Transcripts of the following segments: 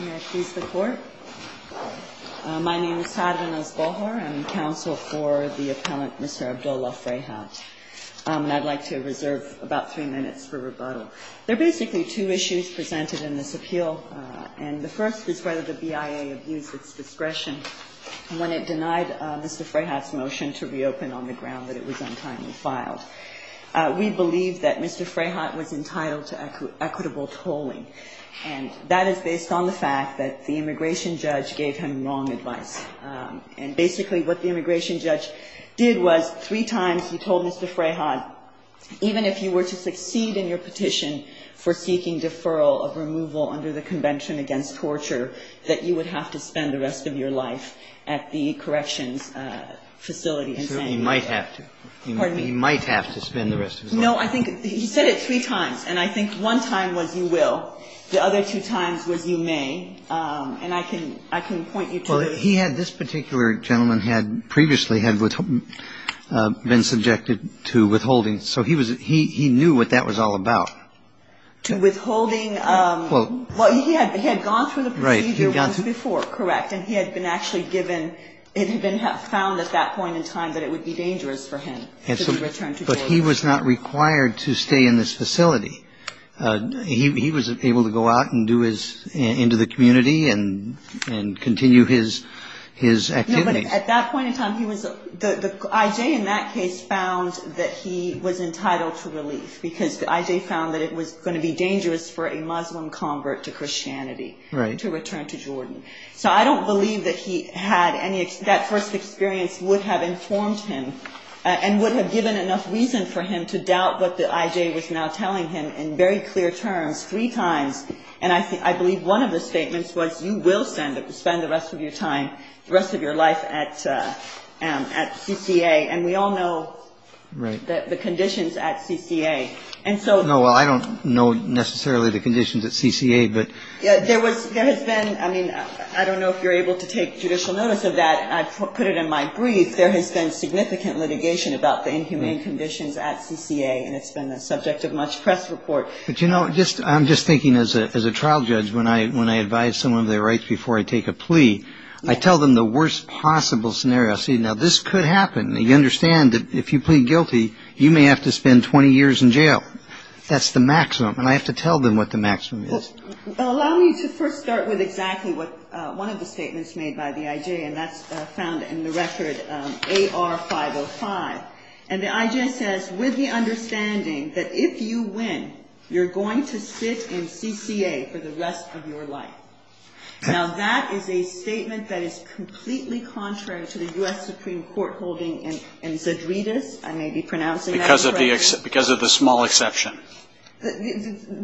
May I please the Court? My name is Sara Nazbohar. I'm counsel for the appellant Mr. Abdullah Fraihat. I'd like to reserve about three minutes for rebuttal. There are basically two issues presented in this appeal, and the first is whether the BIA abused its discretion when it denied Mr. Fraihat's motion to reopen on the ground that it was untimely filed. We believe that Mr. Fraihat was entitled to equitable tolling, and that is based on the fact that the immigration judge gave him wrong advice. And basically what the immigration judge did was three times he told Mr. Fraihat, even if you were to succeed in your petition for seeking deferral of removal under the Convention Against Torture, that you would have to spend the rest of your life at the corrections facility in San Diego. He might have to. Pardon me? He might have to spend the rest of his life. No, I think he said it three times, and I think one time was you will. The other two times was you may. And I can point you to the ---- Well, he had this particular gentleman had previously had been subjected to withholding, so he was he knew what that was all about. To withholding, well, he had gone through the procedure once before, correct? And he had been actually given ---- it had been found at that point in time that it would be dangerous for him to return to Jordan. But he was not required to stay in this facility. He was able to go out and do his ---- into the community and continue his activity. No, but at that point in time, he was ---- the I.J. in that case found that he was entitled to relief because the I.J. found that it was going to be dangerous for a Muslim convert to Christianity. Right. To return to Jordan. So I don't believe that he had any ---- that first experience would have informed him and would have given enough reason for him to doubt what the I.J. was now telling him in very clear terms three times. And I believe one of the statements was you will spend the rest of your time, the rest of your life at CCA. And we all know the conditions at CCA. And so ---- No, well, I don't know necessarily the conditions at CCA, but ---- There has been ---- I mean, I don't know if you're able to take judicial notice of that. I put it in my brief. There has been significant litigation about the inhumane conditions at CCA, and it's been the subject of much press report. But, you know, I'm just thinking as a trial judge, when I advise someone of their rights before I take a plea, I tell them the worst possible scenario. I say, now, this could happen. You understand that if you plead guilty, you may have to spend 20 years in jail. That's the maximum. And I have to tell them what the maximum is. Well, allow me to first start with exactly what one of the statements made by the IJ, and that's found in the record AR-505. And the IJ says, with the understanding that if you win, you're going to sit in CCA for the rest of your life. Now, that is a statement that is completely contrary to the U.S. Supreme Court holding in Zadridis. I may be pronouncing that incorrectly. Because of the small exception.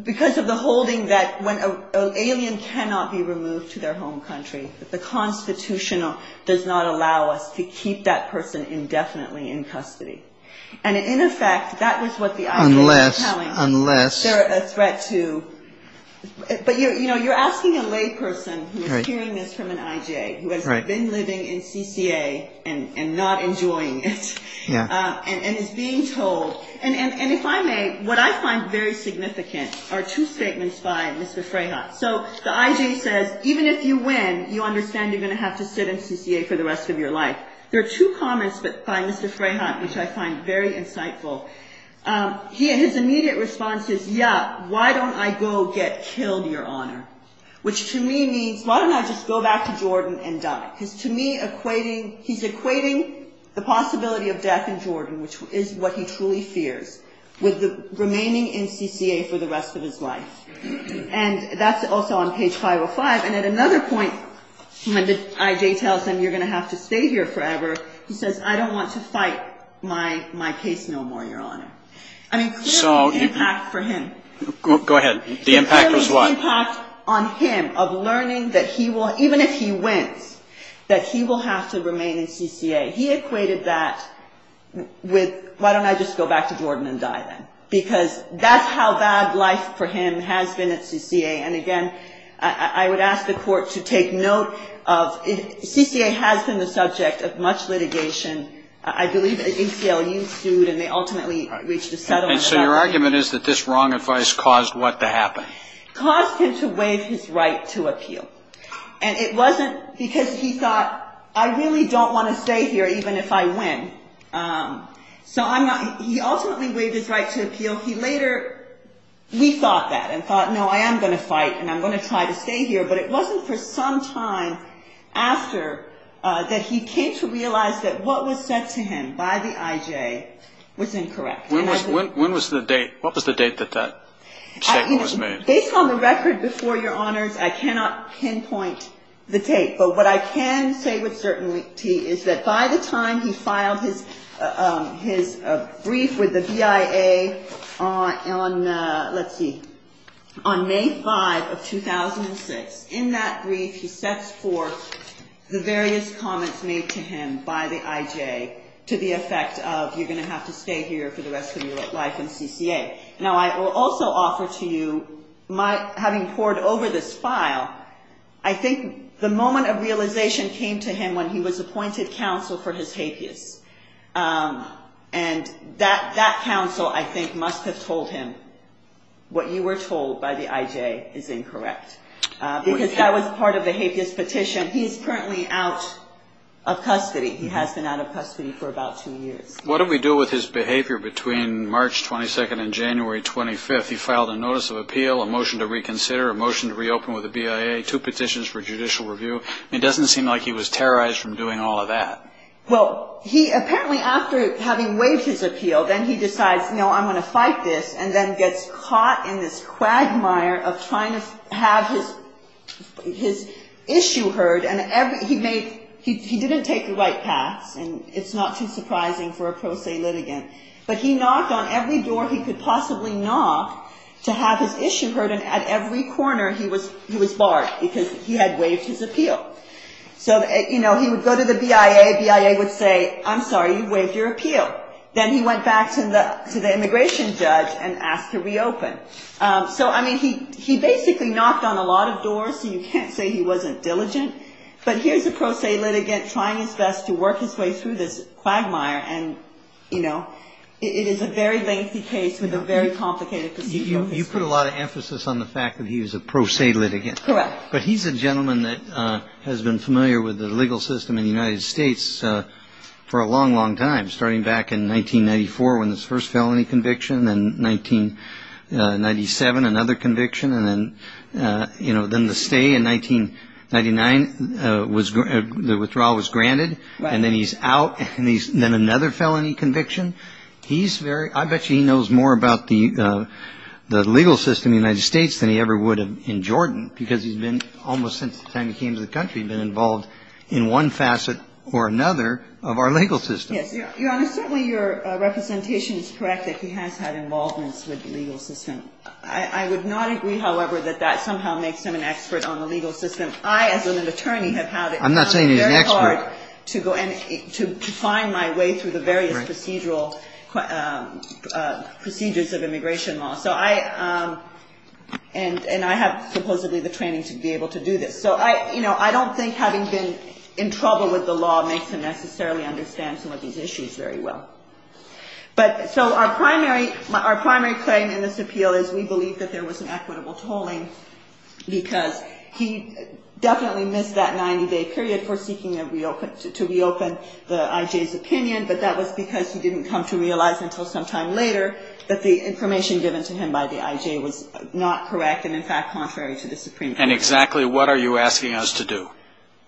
Because of the holding that when an alien cannot be removed to their home country, the Constitution does not allow us to keep that person indefinitely in custody. And, in effect, that was what the IJ was telling me. Unless. They're a threat to. But, you know, you're asking a lay person who is hearing this from an IJ who has been living in CCA and not enjoying it. Yeah. And is being told. And if I may, what I find very significant are two statements by Mr. Freyhut. So, the IJ says, even if you win, you understand you're going to have to sit in CCA for the rest of your life. There are two comments by Mr. Freyhut, which I find very insightful. He, in his immediate response, says, yeah, why don't I go get killed, Your Honor? Which, to me, means, why don't I just go back to Jordan and die? Because, to me, he's equating the possibility of death in Jordan, which is what he truly fears, with remaining in CCA for the rest of his life. And that's also on page 505. And at another point, when the IJ tells him you're going to have to stay here forever, he says, I don't want to fight my case no more, Your Honor. I mean, clearly the impact for him. Go ahead. The impact was what? That he will have to remain in CCA. He equated that with, why don't I just go back to Jordan and die then? Because that's how bad life for him has been at CCA. And, again, I would ask the Court to take note of CCA has been the subject of much litigation. I believe the ACLU sued, and they ultimately reached a settlement. And so your argument is that this wrong advice caused what to happen? Caused him to waive his right to appeal. And it wasn't because he thought, I really don't want to stay here even if I win. So he ultimately waived his right to appeal. He later rethought that and thought, no, I am going to fight and I'm going to try to stay here. But it wasn't for some time after that he came to realize that what was said to him by the IJ was incorrect. When was the date? What was the date that that statement was made? Based on the record before, Your Honors, I cannot pinpoint the date. But what I can say with certainty is that by the time he filed his brief with the BIA on, let's see, on May 5 of 2006, in that brief he sets forth the various comments made to him by the IJ to the effect of, you're going to have to stay here for the rest of your life in CCA. Now, I will also offer to you, having pored over this file, I think the moment of realization came to him when he was appointed counsel for his hapeus. And that counsel, I think, must have told him what you were told by the IJ is incorrect. Because that was part of the hapeus petition. He is currently out of custody. He has been out of custody for about two years. What do we do with his behavior between March 22nd and January 25th? He filed a notice of appeal, a motion to reconsider, a motion to reopen with the BIA, two petitions for judicial review. It doesn't seem like he was terrorized from doing all of that. Well, he apparently, after having waived his appeal, then he decides, you know, I'm going to fight this, and then gets caught in this quagmire of trying to have his issue heard. And he didn't take the right paths, and it's not too surprising for a pro se litigant. But he knocked on every door he could possibly knock to have his issue heard, and at every corner he was barred because he had waived his appeal. So, you know, he would go to the BIA. BIA would say, I'm sorry, you've waived your appeal. Then he went back to the immigration judge and asked to reopen. So, I mean, he basically knocked on a lot of doors, so you can't say he wasn't diligent. But here's a pro se litigant trying his best to work his way through this quagmire, and, you know, it is a very lengthy case with a very complicated procedural history. You put a lot of emphasis on the fact that he was a pro se litigant. Correct. But he's a gentleman that has been familiar with the legal system in the United States for a long, long time, starting back in 1994 when this first felony conviction, then 1997, another conviction, and then, you know, then the stay in 1999, the withdrawal was granted. Right. And then he's out, and then another felony conviction. I bet you he knows more about the legal system in the United States than he ever would in Jordan, because he's been, almost since the time he came to the country, been involved in one facet or another of our legal system. Yes. Your Honor, certainly your representation is correct that he has had involvements with the legal system. I would not agree, however, that that somehow makes him an expert on the legal system. I, as an attorney, have had it very hard to go and to find my way through the various procedural procedures of immigration law. So I – and I have supposedly the training to be able to do this. So, you know, I don't think having been in trouble with the law makes him necessarily understand some of these issues very well. But so our primary claim in this appeal is we believe that there was an equitable tolling, because he definitely missed that 90-day period for seeking to reopen the I.J.'s opinion, but that was because he didn't come to realize until some time later that the information given to him by the I.J. was not correct and, in fact, contrary to the Supreme Court. And exactly what are you asking us to do?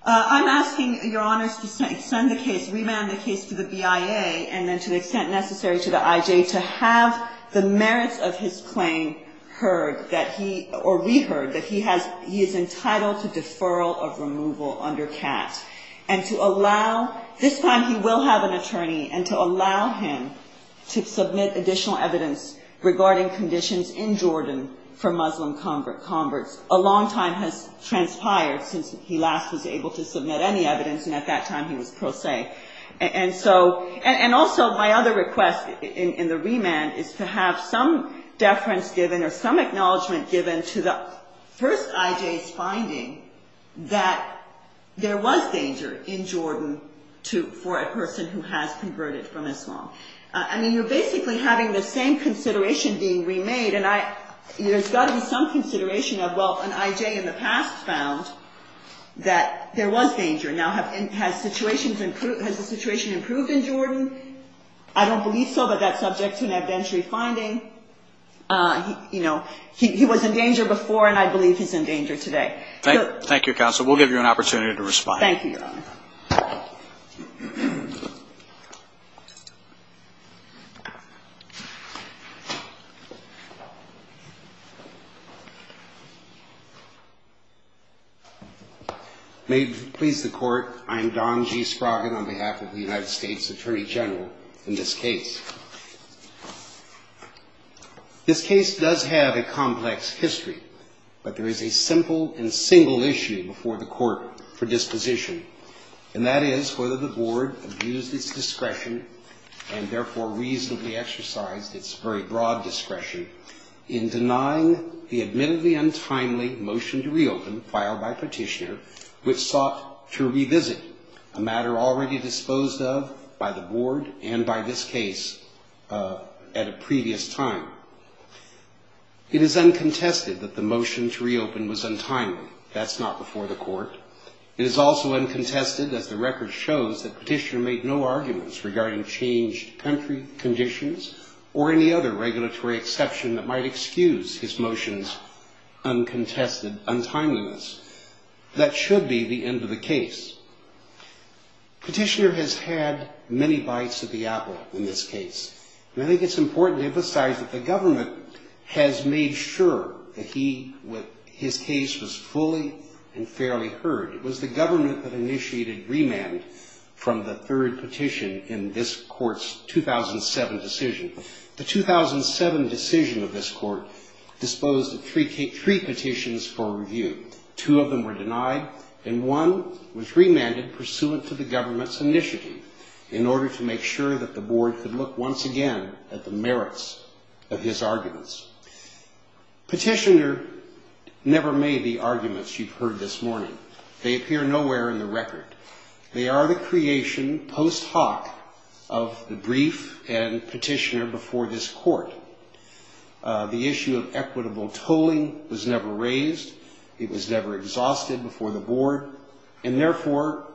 I'm asking, Your Honors, to send the case – remand the case to the BIA and then to the extent necessary to the I.J. to have the merits of his claim heard that he – or reheard that he has – he is entitled to deferral of removal under CAT. And to allow – this time he will have an attorney and to allow him to submit additional evidence regarding conditions in Jordan for Muslim converts. A long time has transpired since he last was able to submit any evidence, and at that time he was pro se. And so – and also my other request in the remand is to have some deference given or some acknowledgement given to the first I.J.'s finding that there was danger in Jordan to – for a person who has converted from Islam. I mean, you're basically having the same consideration being remade. And I – there's got to be some consideration of, well, an I.J. in the past found that there was danger. Now, have – has situations improved – has the situation improved in Jordan? I don't believe so, but that's subject to an evidentiary finding. You know, he was in danger before, and I believe he's in danger today. Thank you, Counsel. We'll give you an opportunity to respond. Thank you, Your Honor. May it please the Court, I am Don G. Sproggin on behalf of the United States Attorney General in this case. This case does have a complex history, but there is a simple and single issue before the Court for disposition. And that is whether the Board abused its discretion and therefore reasonably exercised its very broad discretion in denying the admittedly untimely motion to reopen filed by Petitioner which sought to revisit a matter already disposed of by the Board and by this case at a previous time. It is uncontested that the motion to reopen was untimely. That's not before the Court. It is also uncontested, as the record shows, that Petitioner made no arguments regarding changed country conditions or any other regulatory exception that might excuse his motion's uncontested untimeliness. That should be the end of the case. Petitioner has had many bites of the apple in this case, and I think it's important to emphasize that the government has made sure that his case was fully and fairly heard. It was the government that initiated remand from the third petition in this Court's 2007 decision. The 2007 decision of this Court disposed of three petitions for review. Two of them were denied, and one was remanded pursuant to the government's initiative in order to make sure that the Board could look once again at the merits of his arguments. Petitioner never made the arguments you've heard this morning. They appear nowhere in the record. They are the creation post hoc of the brief and Petitioner before this Court. The issue of equitable tolling was never raised. It was never exhausted before the Board, and therefore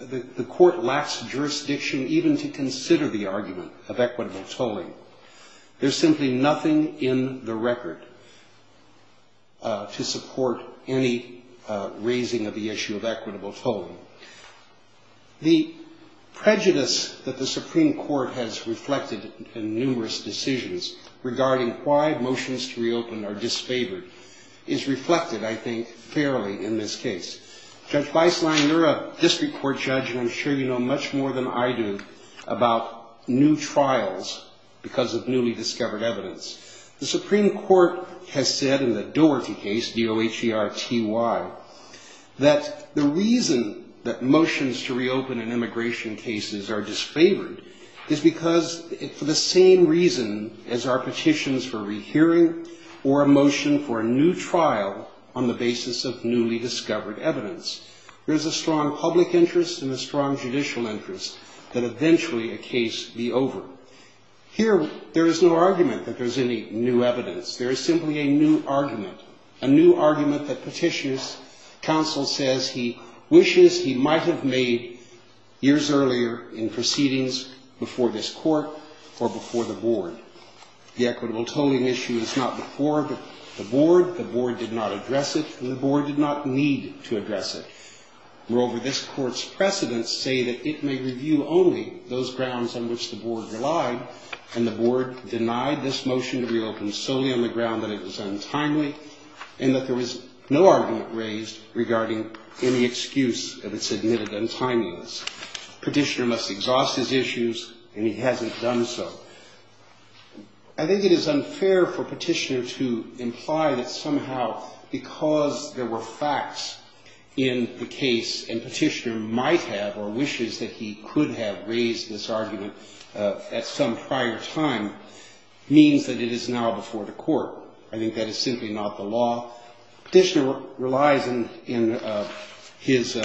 the Court lacks jurisdiction even to consider the argument of equitable tolling. There's simply nothing in the record to support any raising of the issue of equitable tolling. The prejudice that the Supreme Court has reflected in numerous decisions regarding why motions to reopen are disfavored is reflected, I think, fairly in this case. Judge Weisslein, you're a district court judge, and I'm sure you know much more than I do about new trials because of newly discovered evidence. The Supreme Court has said in the Doherty case, D-O-H-E-R-T-Y, that the reason that motions to reopen in immigration cases are disfavored is because for the same reason as our petitions for rehearing or a motion for a new trial on the basis of newly discovered evidence, there's a strong public interest and a strong judicial interest that eventually a case be over. Here, there is no argument that there's any new evidence. There is simply a new argument, a new argument that Petitioner's counsel says he wishes he might have made years earlier in proceedings before this Court or before the Board. The equitable tolling issue is not before the Board. The Board did not address it, and the Board did not need to address it. Moreover, this Court's precedents say that it may review only those grounds on which the Board relied, and the Board denied this motion to reopen solely on the ground that it was untimely and that there was no argument raised regarding any excuse of its admitted untimeliness. Petitioner must exhaust his issues, and he hasn't done so. I think it is unfair for Petitioner to imply that somehow because there were facts in the case and Petitioner might have or wishes that he could have raised this argument at some prior time means that it is now before the Court. I think that is simply not the law. Petitioner relies in his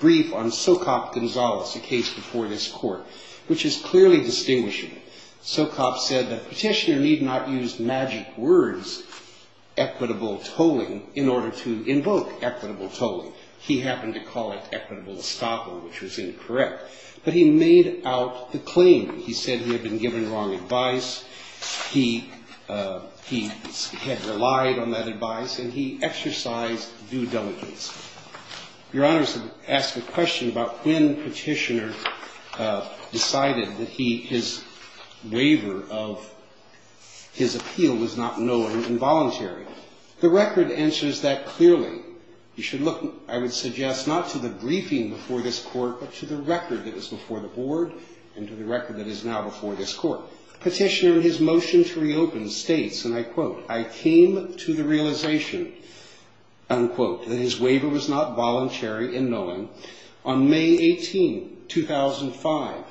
brief on Socop Gonzalez, the case before this Court, which is clearly distinguishable. Socop said that Petitioner need not use magic words, equitable tolling, in order to invoke equitable tolling. He happened to call it equitable estoppel, which was incorrect. But he made out the claim. He said he had been given wrong advice. He had relied on that advice, and he exercised due diligence. Your Honors have asked a question about when Petitioner decided that his waiver of his appeal was not known and involuntary. The record answers that clearly. You should look, I would suggest, not to the briefing before this Court, but to the record that is before the Board and to the record that is now before this Court. Petitioner, in his motion to reopen, states, and I quote, I came to the realization, unquote, that his waiver was not voluntary in knowing. On May 18, 2005,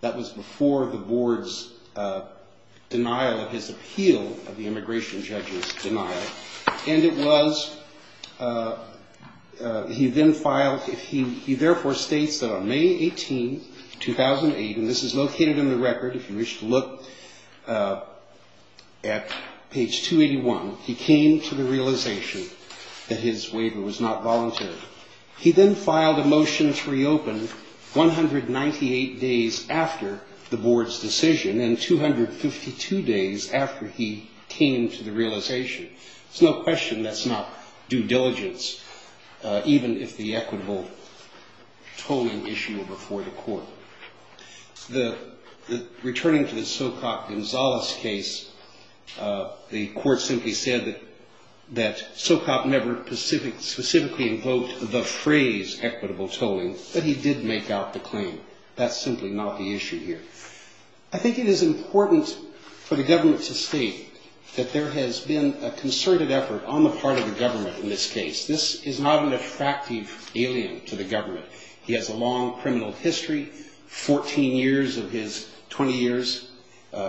that was before the Board's denial of his appeal, of the immigration judge's denial, and it was, he then filed, he therefore states that on May 18, 2008, and this is located in the record if you wish to look at page 281, he came to the realization that his waiver was not voluntary. He then filed a motion to reopen 198 days after the Board's decision and 252 days after he came to the realization. There's no question that's not due diligence, even if the equitable tolling issue were before the Court. Returning to the Socop-Gonzalez case, the Court simply said that Socop never specifically invoked the phrase equitable tolling, but he did make out the claim. That's simply not the issue here. I think it is important for the government to state that there has been a concerted effort on the part of the government in this case. This is not an attractive alien to the government. He has a long criminal history, 14 years of his 20 years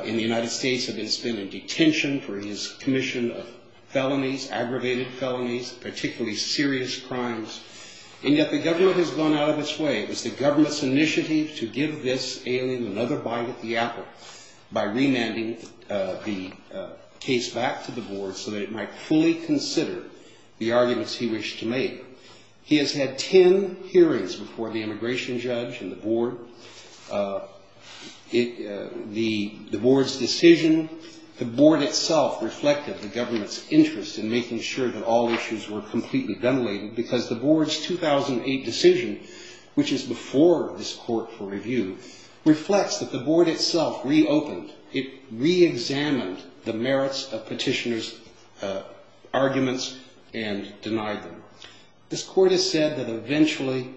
in the United States, and has been in detention for his commission of felonies, aggravated felonies, particularly serious crimes, and yet the government has gone out of its way. It was the government's initiative to give this alien another bite at the apple by remanding the case back to the Board so that it might fully consider the arguments he wished to make. He has had 10 hearings before the immigration judge and the Board. The Board's decision, the Board itself reflected the government's interest in making sure that all issues were completely demolated because the Board's 2008 decision, which is before this Court for review, reflects that the Board itself reopened. It reexamined the merits of petitioners' arguments and denied them. This Court has said that eventually,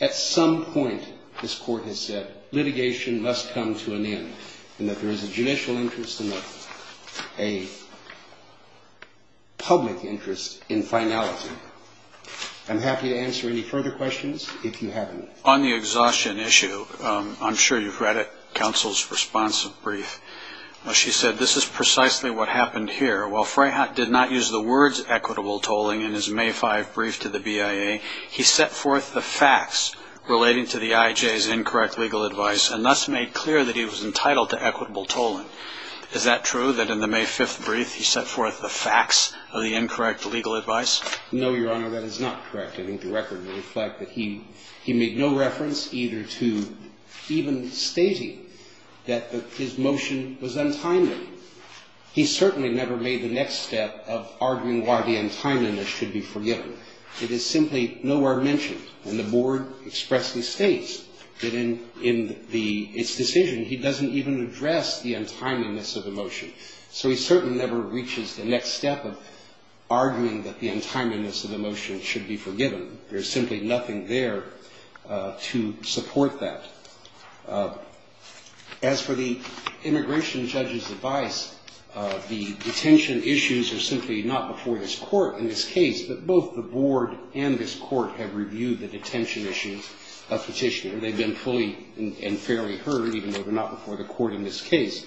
at some point, this Court has said, litigation must come to an end and that there is a judicial interest and a public interest in finality. I'm happy to answer any further questions if you have any. On the exhaustion issue, I'm sure you've read it, counsel's response brief. She said, this is precisely what happened here. While Freyhut did not use the words equitable tolling in his May 5 brief to the BIA, he set forth the facts relating to the IJ's incorrect legal advice and thus made clear that he was entitled to equitable tolling. Is that true, that in the May 5 brief he set forth the facts of the incorrect legal advice? No, Your Honor, that is not correct. I think the record would reflect that he made no reference either to even stating that his motion was untimely. He certainly never made the next step of arguing why the untimeliness should be forgiven. It is simply nowhere mentioned. And the Board expressly states that in its decision, he doesn't even address the untimeliness of the motion. So he certainly never reaches the next step of arguing that the untimeliness of the motion should be forgiven. There is simply nothing there to support that. As for the immigration judge's advice, the detention issues are simply not before this Court in this case, but both the Board and this Court have reviewed the detention issues of Petitioner. They've been fully and fairly heard, even though they're not before the Court in this case.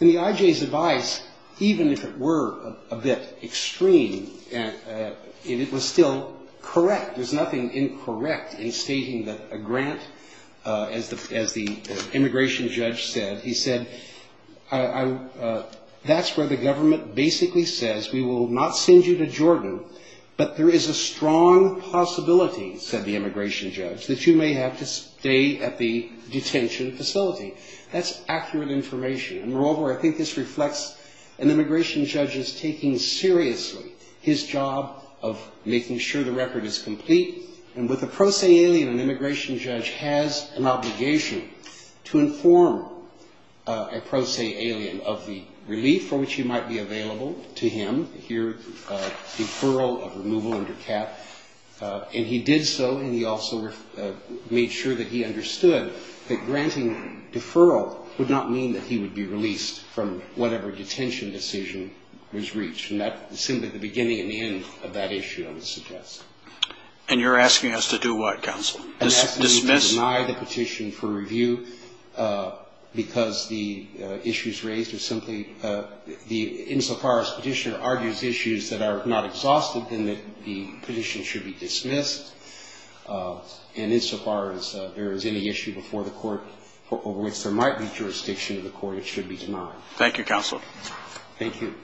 And the IJ's advice, even if it were a bit extreme, it was still correct. There's nothing incorrect in stating that a grant, as the immigration judge said, he said, that's where the government basically says we will not send you to Jordan, but there is a strong possibility, said the immigration judge, that you may have to stay at the detention facility. That's accurate information. Moreover, I think this reflects an immigration judge's taking seriously his job of making sure the record is complete. And with a pro se alien, an immigration judge has an obligation to inform a pro se alien of the relief for which he might be available to him. Here, deferral of removal under cap. And he did so and he also made sure that he understood that granting deferral would not mean that he would be released from whatever detention decision was reached. And that's simply the beginning and the end of that issue, I would suggest. And you're asking us to do what, counsel? Dismiss? I'm asking you to deny the petition for review because the issues raised are simply, insofar as the petitioner argues issues that are not exhausted, then the petition should be dismissed. And insofar as there is any issue before the Court over which there might be jurisdiction in the Court, it should be denied. Thank you, counsel. Thank you.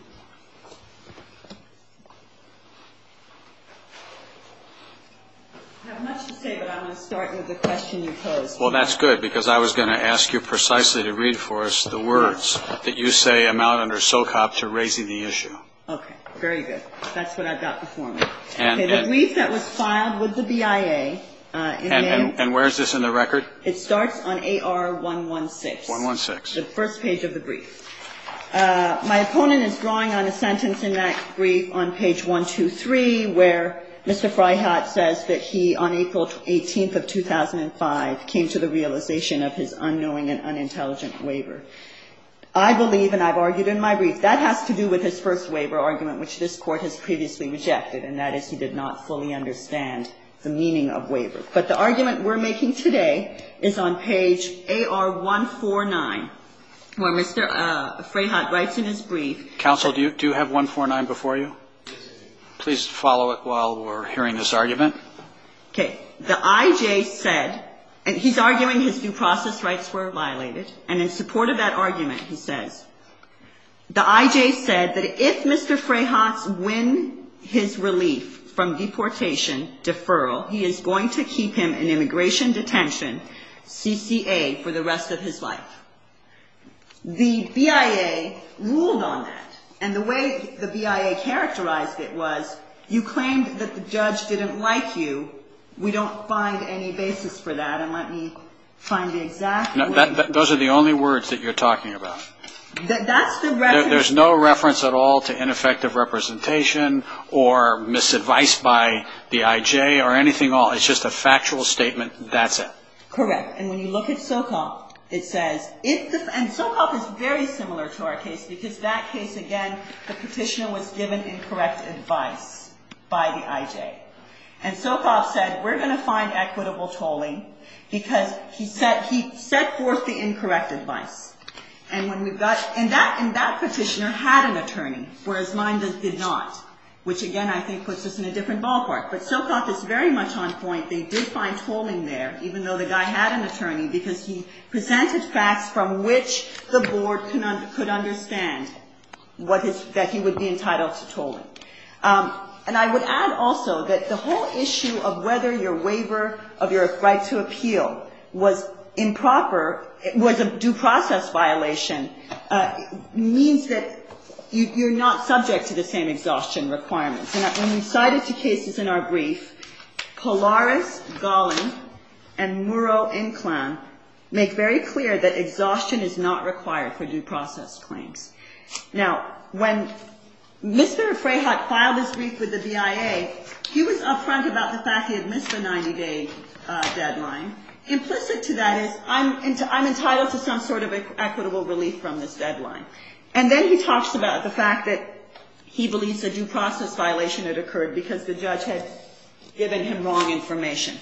I have much to say, but I'm going to start with the question you posed. Well, that's good because I was going to ask you precisely to read for us the words that you say amount under SOCOP to raising the issue. Okay. Very good. That's what I've got before me. Okay. The brief that was filed with the BIA in May. And where is this in the record? It starts on AR116. 116. The first page of the brief. My opponent is drawing on a sentence in that brief on page 123 where Mr. Fryhat says that he, on April 18th of 2005, came to the realization of his unknowing and unintelligent waiver. I believe, and I've argued in my brief, that has to do with his first waiver argument, which this Court has previously rejected, and that is he did not fully understand the meaning of waiver. But the argument we're making today is on page AR149. Where Mr. Fryhat writes in his brief. Counsel, do you have 149 before you? Please follow it while we're hearing this argument. Okay. The IJ said, and he's arguing his due process rights were violated, and in support of that argument he says, the IJ said that if Mr. Fryhat's win his relief from deportation, deferral, he is going to keep him in immigration detention, CCA, for the rest of his life. The BIA ruled on that. And the way the BIA characterized it was, you claimed that the judge didn't like you. We don't find any basis for that. And let me find the exact word. Those are the only words that you're talking about. That's the reference. There's no reference at all to ineffective representation or misadvice by the IJ or anything at all. It's just a factual statement. That's it. Correct. And when you look at Sokov, it says, and Sokov is very similar to our case, because that case, again, the petitioner was given incorrect advice by the IJ. And Sokov said, we're going to find equitable tolling, because he set forth the incorrect advice. And that petitioner had an attorney, whereas mine did not, which, again, I think puts us in a different ballpark. But Sokov is very much on point. They did find tolling there, even though the guy had an attorney, because he presented facts from which the board could understand that he would be entitled to tolling. And I would add also that the whole issue of whether your waiver of your right to appeal was improper, was a due process violation, means that you're not subject to the same exhaustion requirements. And when we cite it to cases in our brief, Polaris, Gollin, and Murrow, Inclan make very clear that exhaustion is not required for due process claims. Now, when Mr. Frehut filed his brief with the BIA, he was up front about the fact he had missed the 90-day deadline. Implicit to that is, I'm entitled to some sort of equitable relief from this deadline. And then he talks about the fact that he believes a due process violation had occurred because the judge had given him wrong information.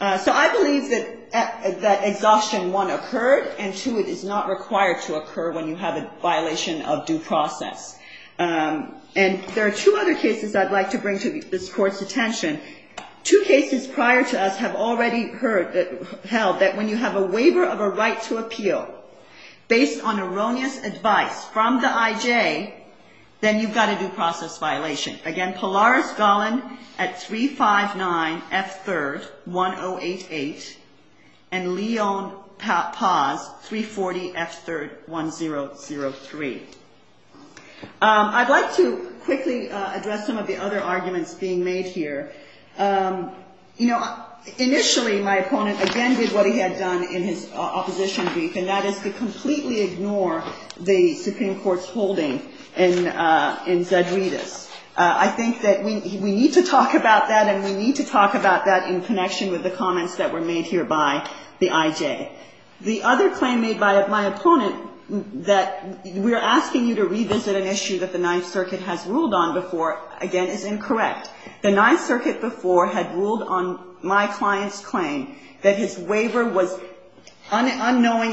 So I believe that exhaustion, one, occurred, and, two, it is not required to occur when you have a violation of due process. And there are two other cases I'd like to bring to this Court's attention. Two cases prior to us have already held that when you have a waiver of a right to appeal, based on erroneous advice from the IJ, then you've got a due process violation. Again, Polaris, Gollin at 359 F. 3rd, 1088, and Leon, Paz, 340 F. 3rd, 1003. I'd like to quickly address some of the other arguments being made here. You know, initially, my opponent, again, did what he had done in his opposition brief, and that is to completely ignore the Supreme Court's holding in Zedrides. I think that we need to talk about that, and we need to talk about that in connection with the comments that were made here by the IJ. The other claim made by my opponent that we are asking you to revisit an issue that the Ninth Circuit has ruled on before, again, is incorrect. The Ninth Circuit before had ruled on my client's claim that his waiver was unknowing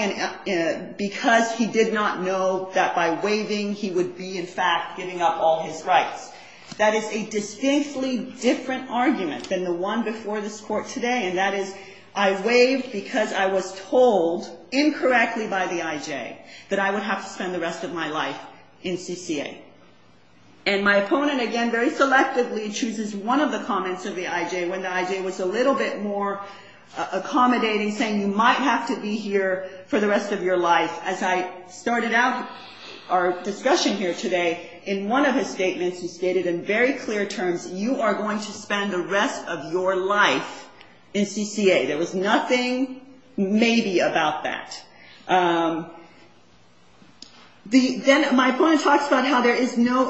because he did not know that by waiving, he would be, in fact, giving up all his rights. That is a distinctly different argument than the one before this Court today, and that is I waived because I was told incorrectly by the IJ that I would have to spend the rest of my life in CCA. And my opponent, again, very selectively chooses one of the comments of the IJ when the IJ was a little bit more accommodating, saying you might have to be here for the rest of your life. As I started out our discussion here today, in one of his statements, he stated in very clear terms, you are going to spend the rest of your life in CCA. There was nothing maybe about that. Then my opponent talks about how there is no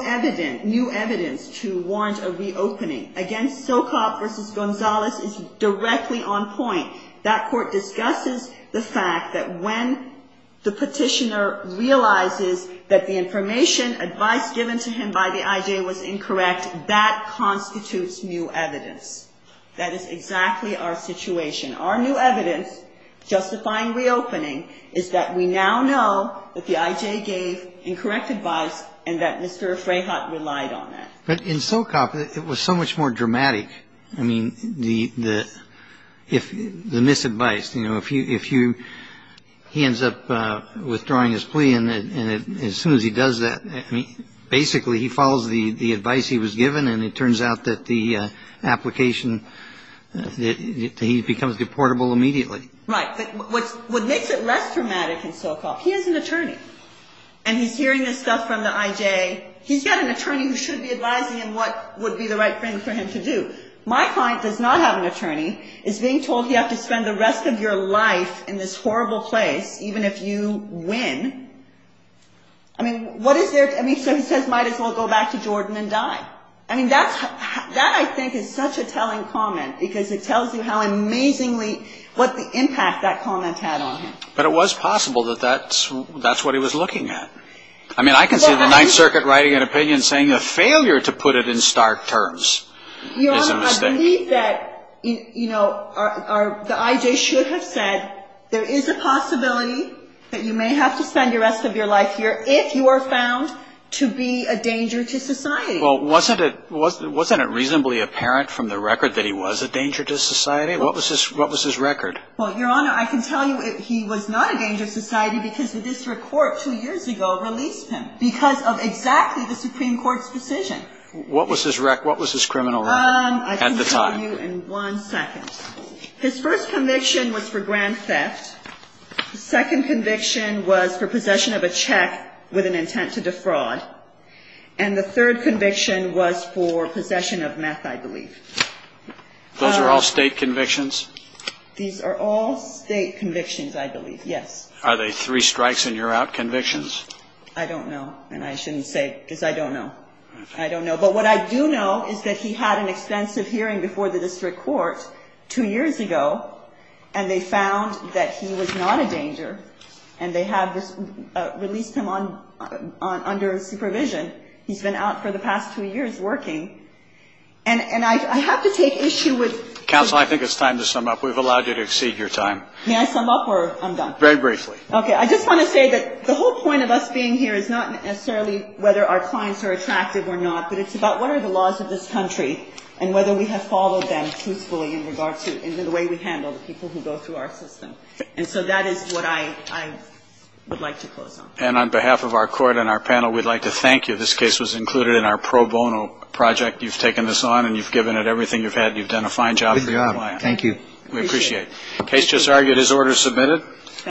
new evidence to warrant a reopening. Again, Socop versus Gonzalez is directly on point. That Court discusses the fact that when the petitioner realizes that the information, advice given to him by the IJ was incorrect, that constitutes new evidence. That is exactly our situation. Our new evidence justifying reopening is that we now know that the IJ gave incorrect advice and that Mr. Freyhut relied on it. But in Socop, it was so much more dramatic. I mean, the misadvice, you know, if you he ends up withdrawing his plea and as soon as he does that, I mean, basically he follows the advice he was given and it turns out that the application, that he becomes deportable immediately. Right. What makes it less dramatic in Socop, he is an attorney. And he's hearing this stuff from the IJ. He's got an attorney who should be advising him what would be the right thing for him to do. My client does not have an attorney, is being told he has to spend the rest of your life in this horrible place, even if you win. I mean, what is there? I mean, so he says might as well go back to Jordan and die. I mean, that's that I think is such a telling comment because it tells you how amazingly what the impact that comment had on him. But it was possible that that's that's what he was looking at. I mean, I can see the Ninth Circuit writing an opinion saying a failure to put it in stark terms is a mistake. I believe that, you know, the IJ should have said there is a possibility that you may have to spend the rest of your life here if you are found to be a danger to society. Well, wasn't it reasonably apparent from the record that he was a danger to society? What was his record? Well, Your Honor, I can tell you he was not a danger to society because the district court two years ago released him because of exactly the Supreme Court's decision. What was his record? What was his criminal record at the time? I can tell you in one second. His first conviction was for grand theft. The second conviction was for possession of a check with an intent to defraud. And the third conviction was for possession of meth, I believe. Those are all state convictions? These are all state convictions, I believe, yes. Are they three strikes and you're out convictions? I don't know. And I shouldn't say because I don't know. I don't know. But what I do know is that he had an extensive hearing before the district court two years ago, and they found that he was not a danger. And they have released him under supervision. He's been out for the past two years working. And I have to take issue with the ---- Counsel, I think it's time to sum up. We've allowed you to exceed your time. May I sum up or I'm done? Very briefly. Okay. I just want to say that the whole point of us being here is not necessarily whether our clients are attractive or not, but it's about what are the laws of this country and whether we have followed them truthfully in regard to the way we handle the people who go through our system. And so that is what I would like to close on. And on behalf of our court and our panel, we'd like to thank you. This case was included in our pro bono project. You've taken this on and you've given it everything you've had. You've done a fine job. Thank you. We appreciate it. Case just argued. His order is submitted.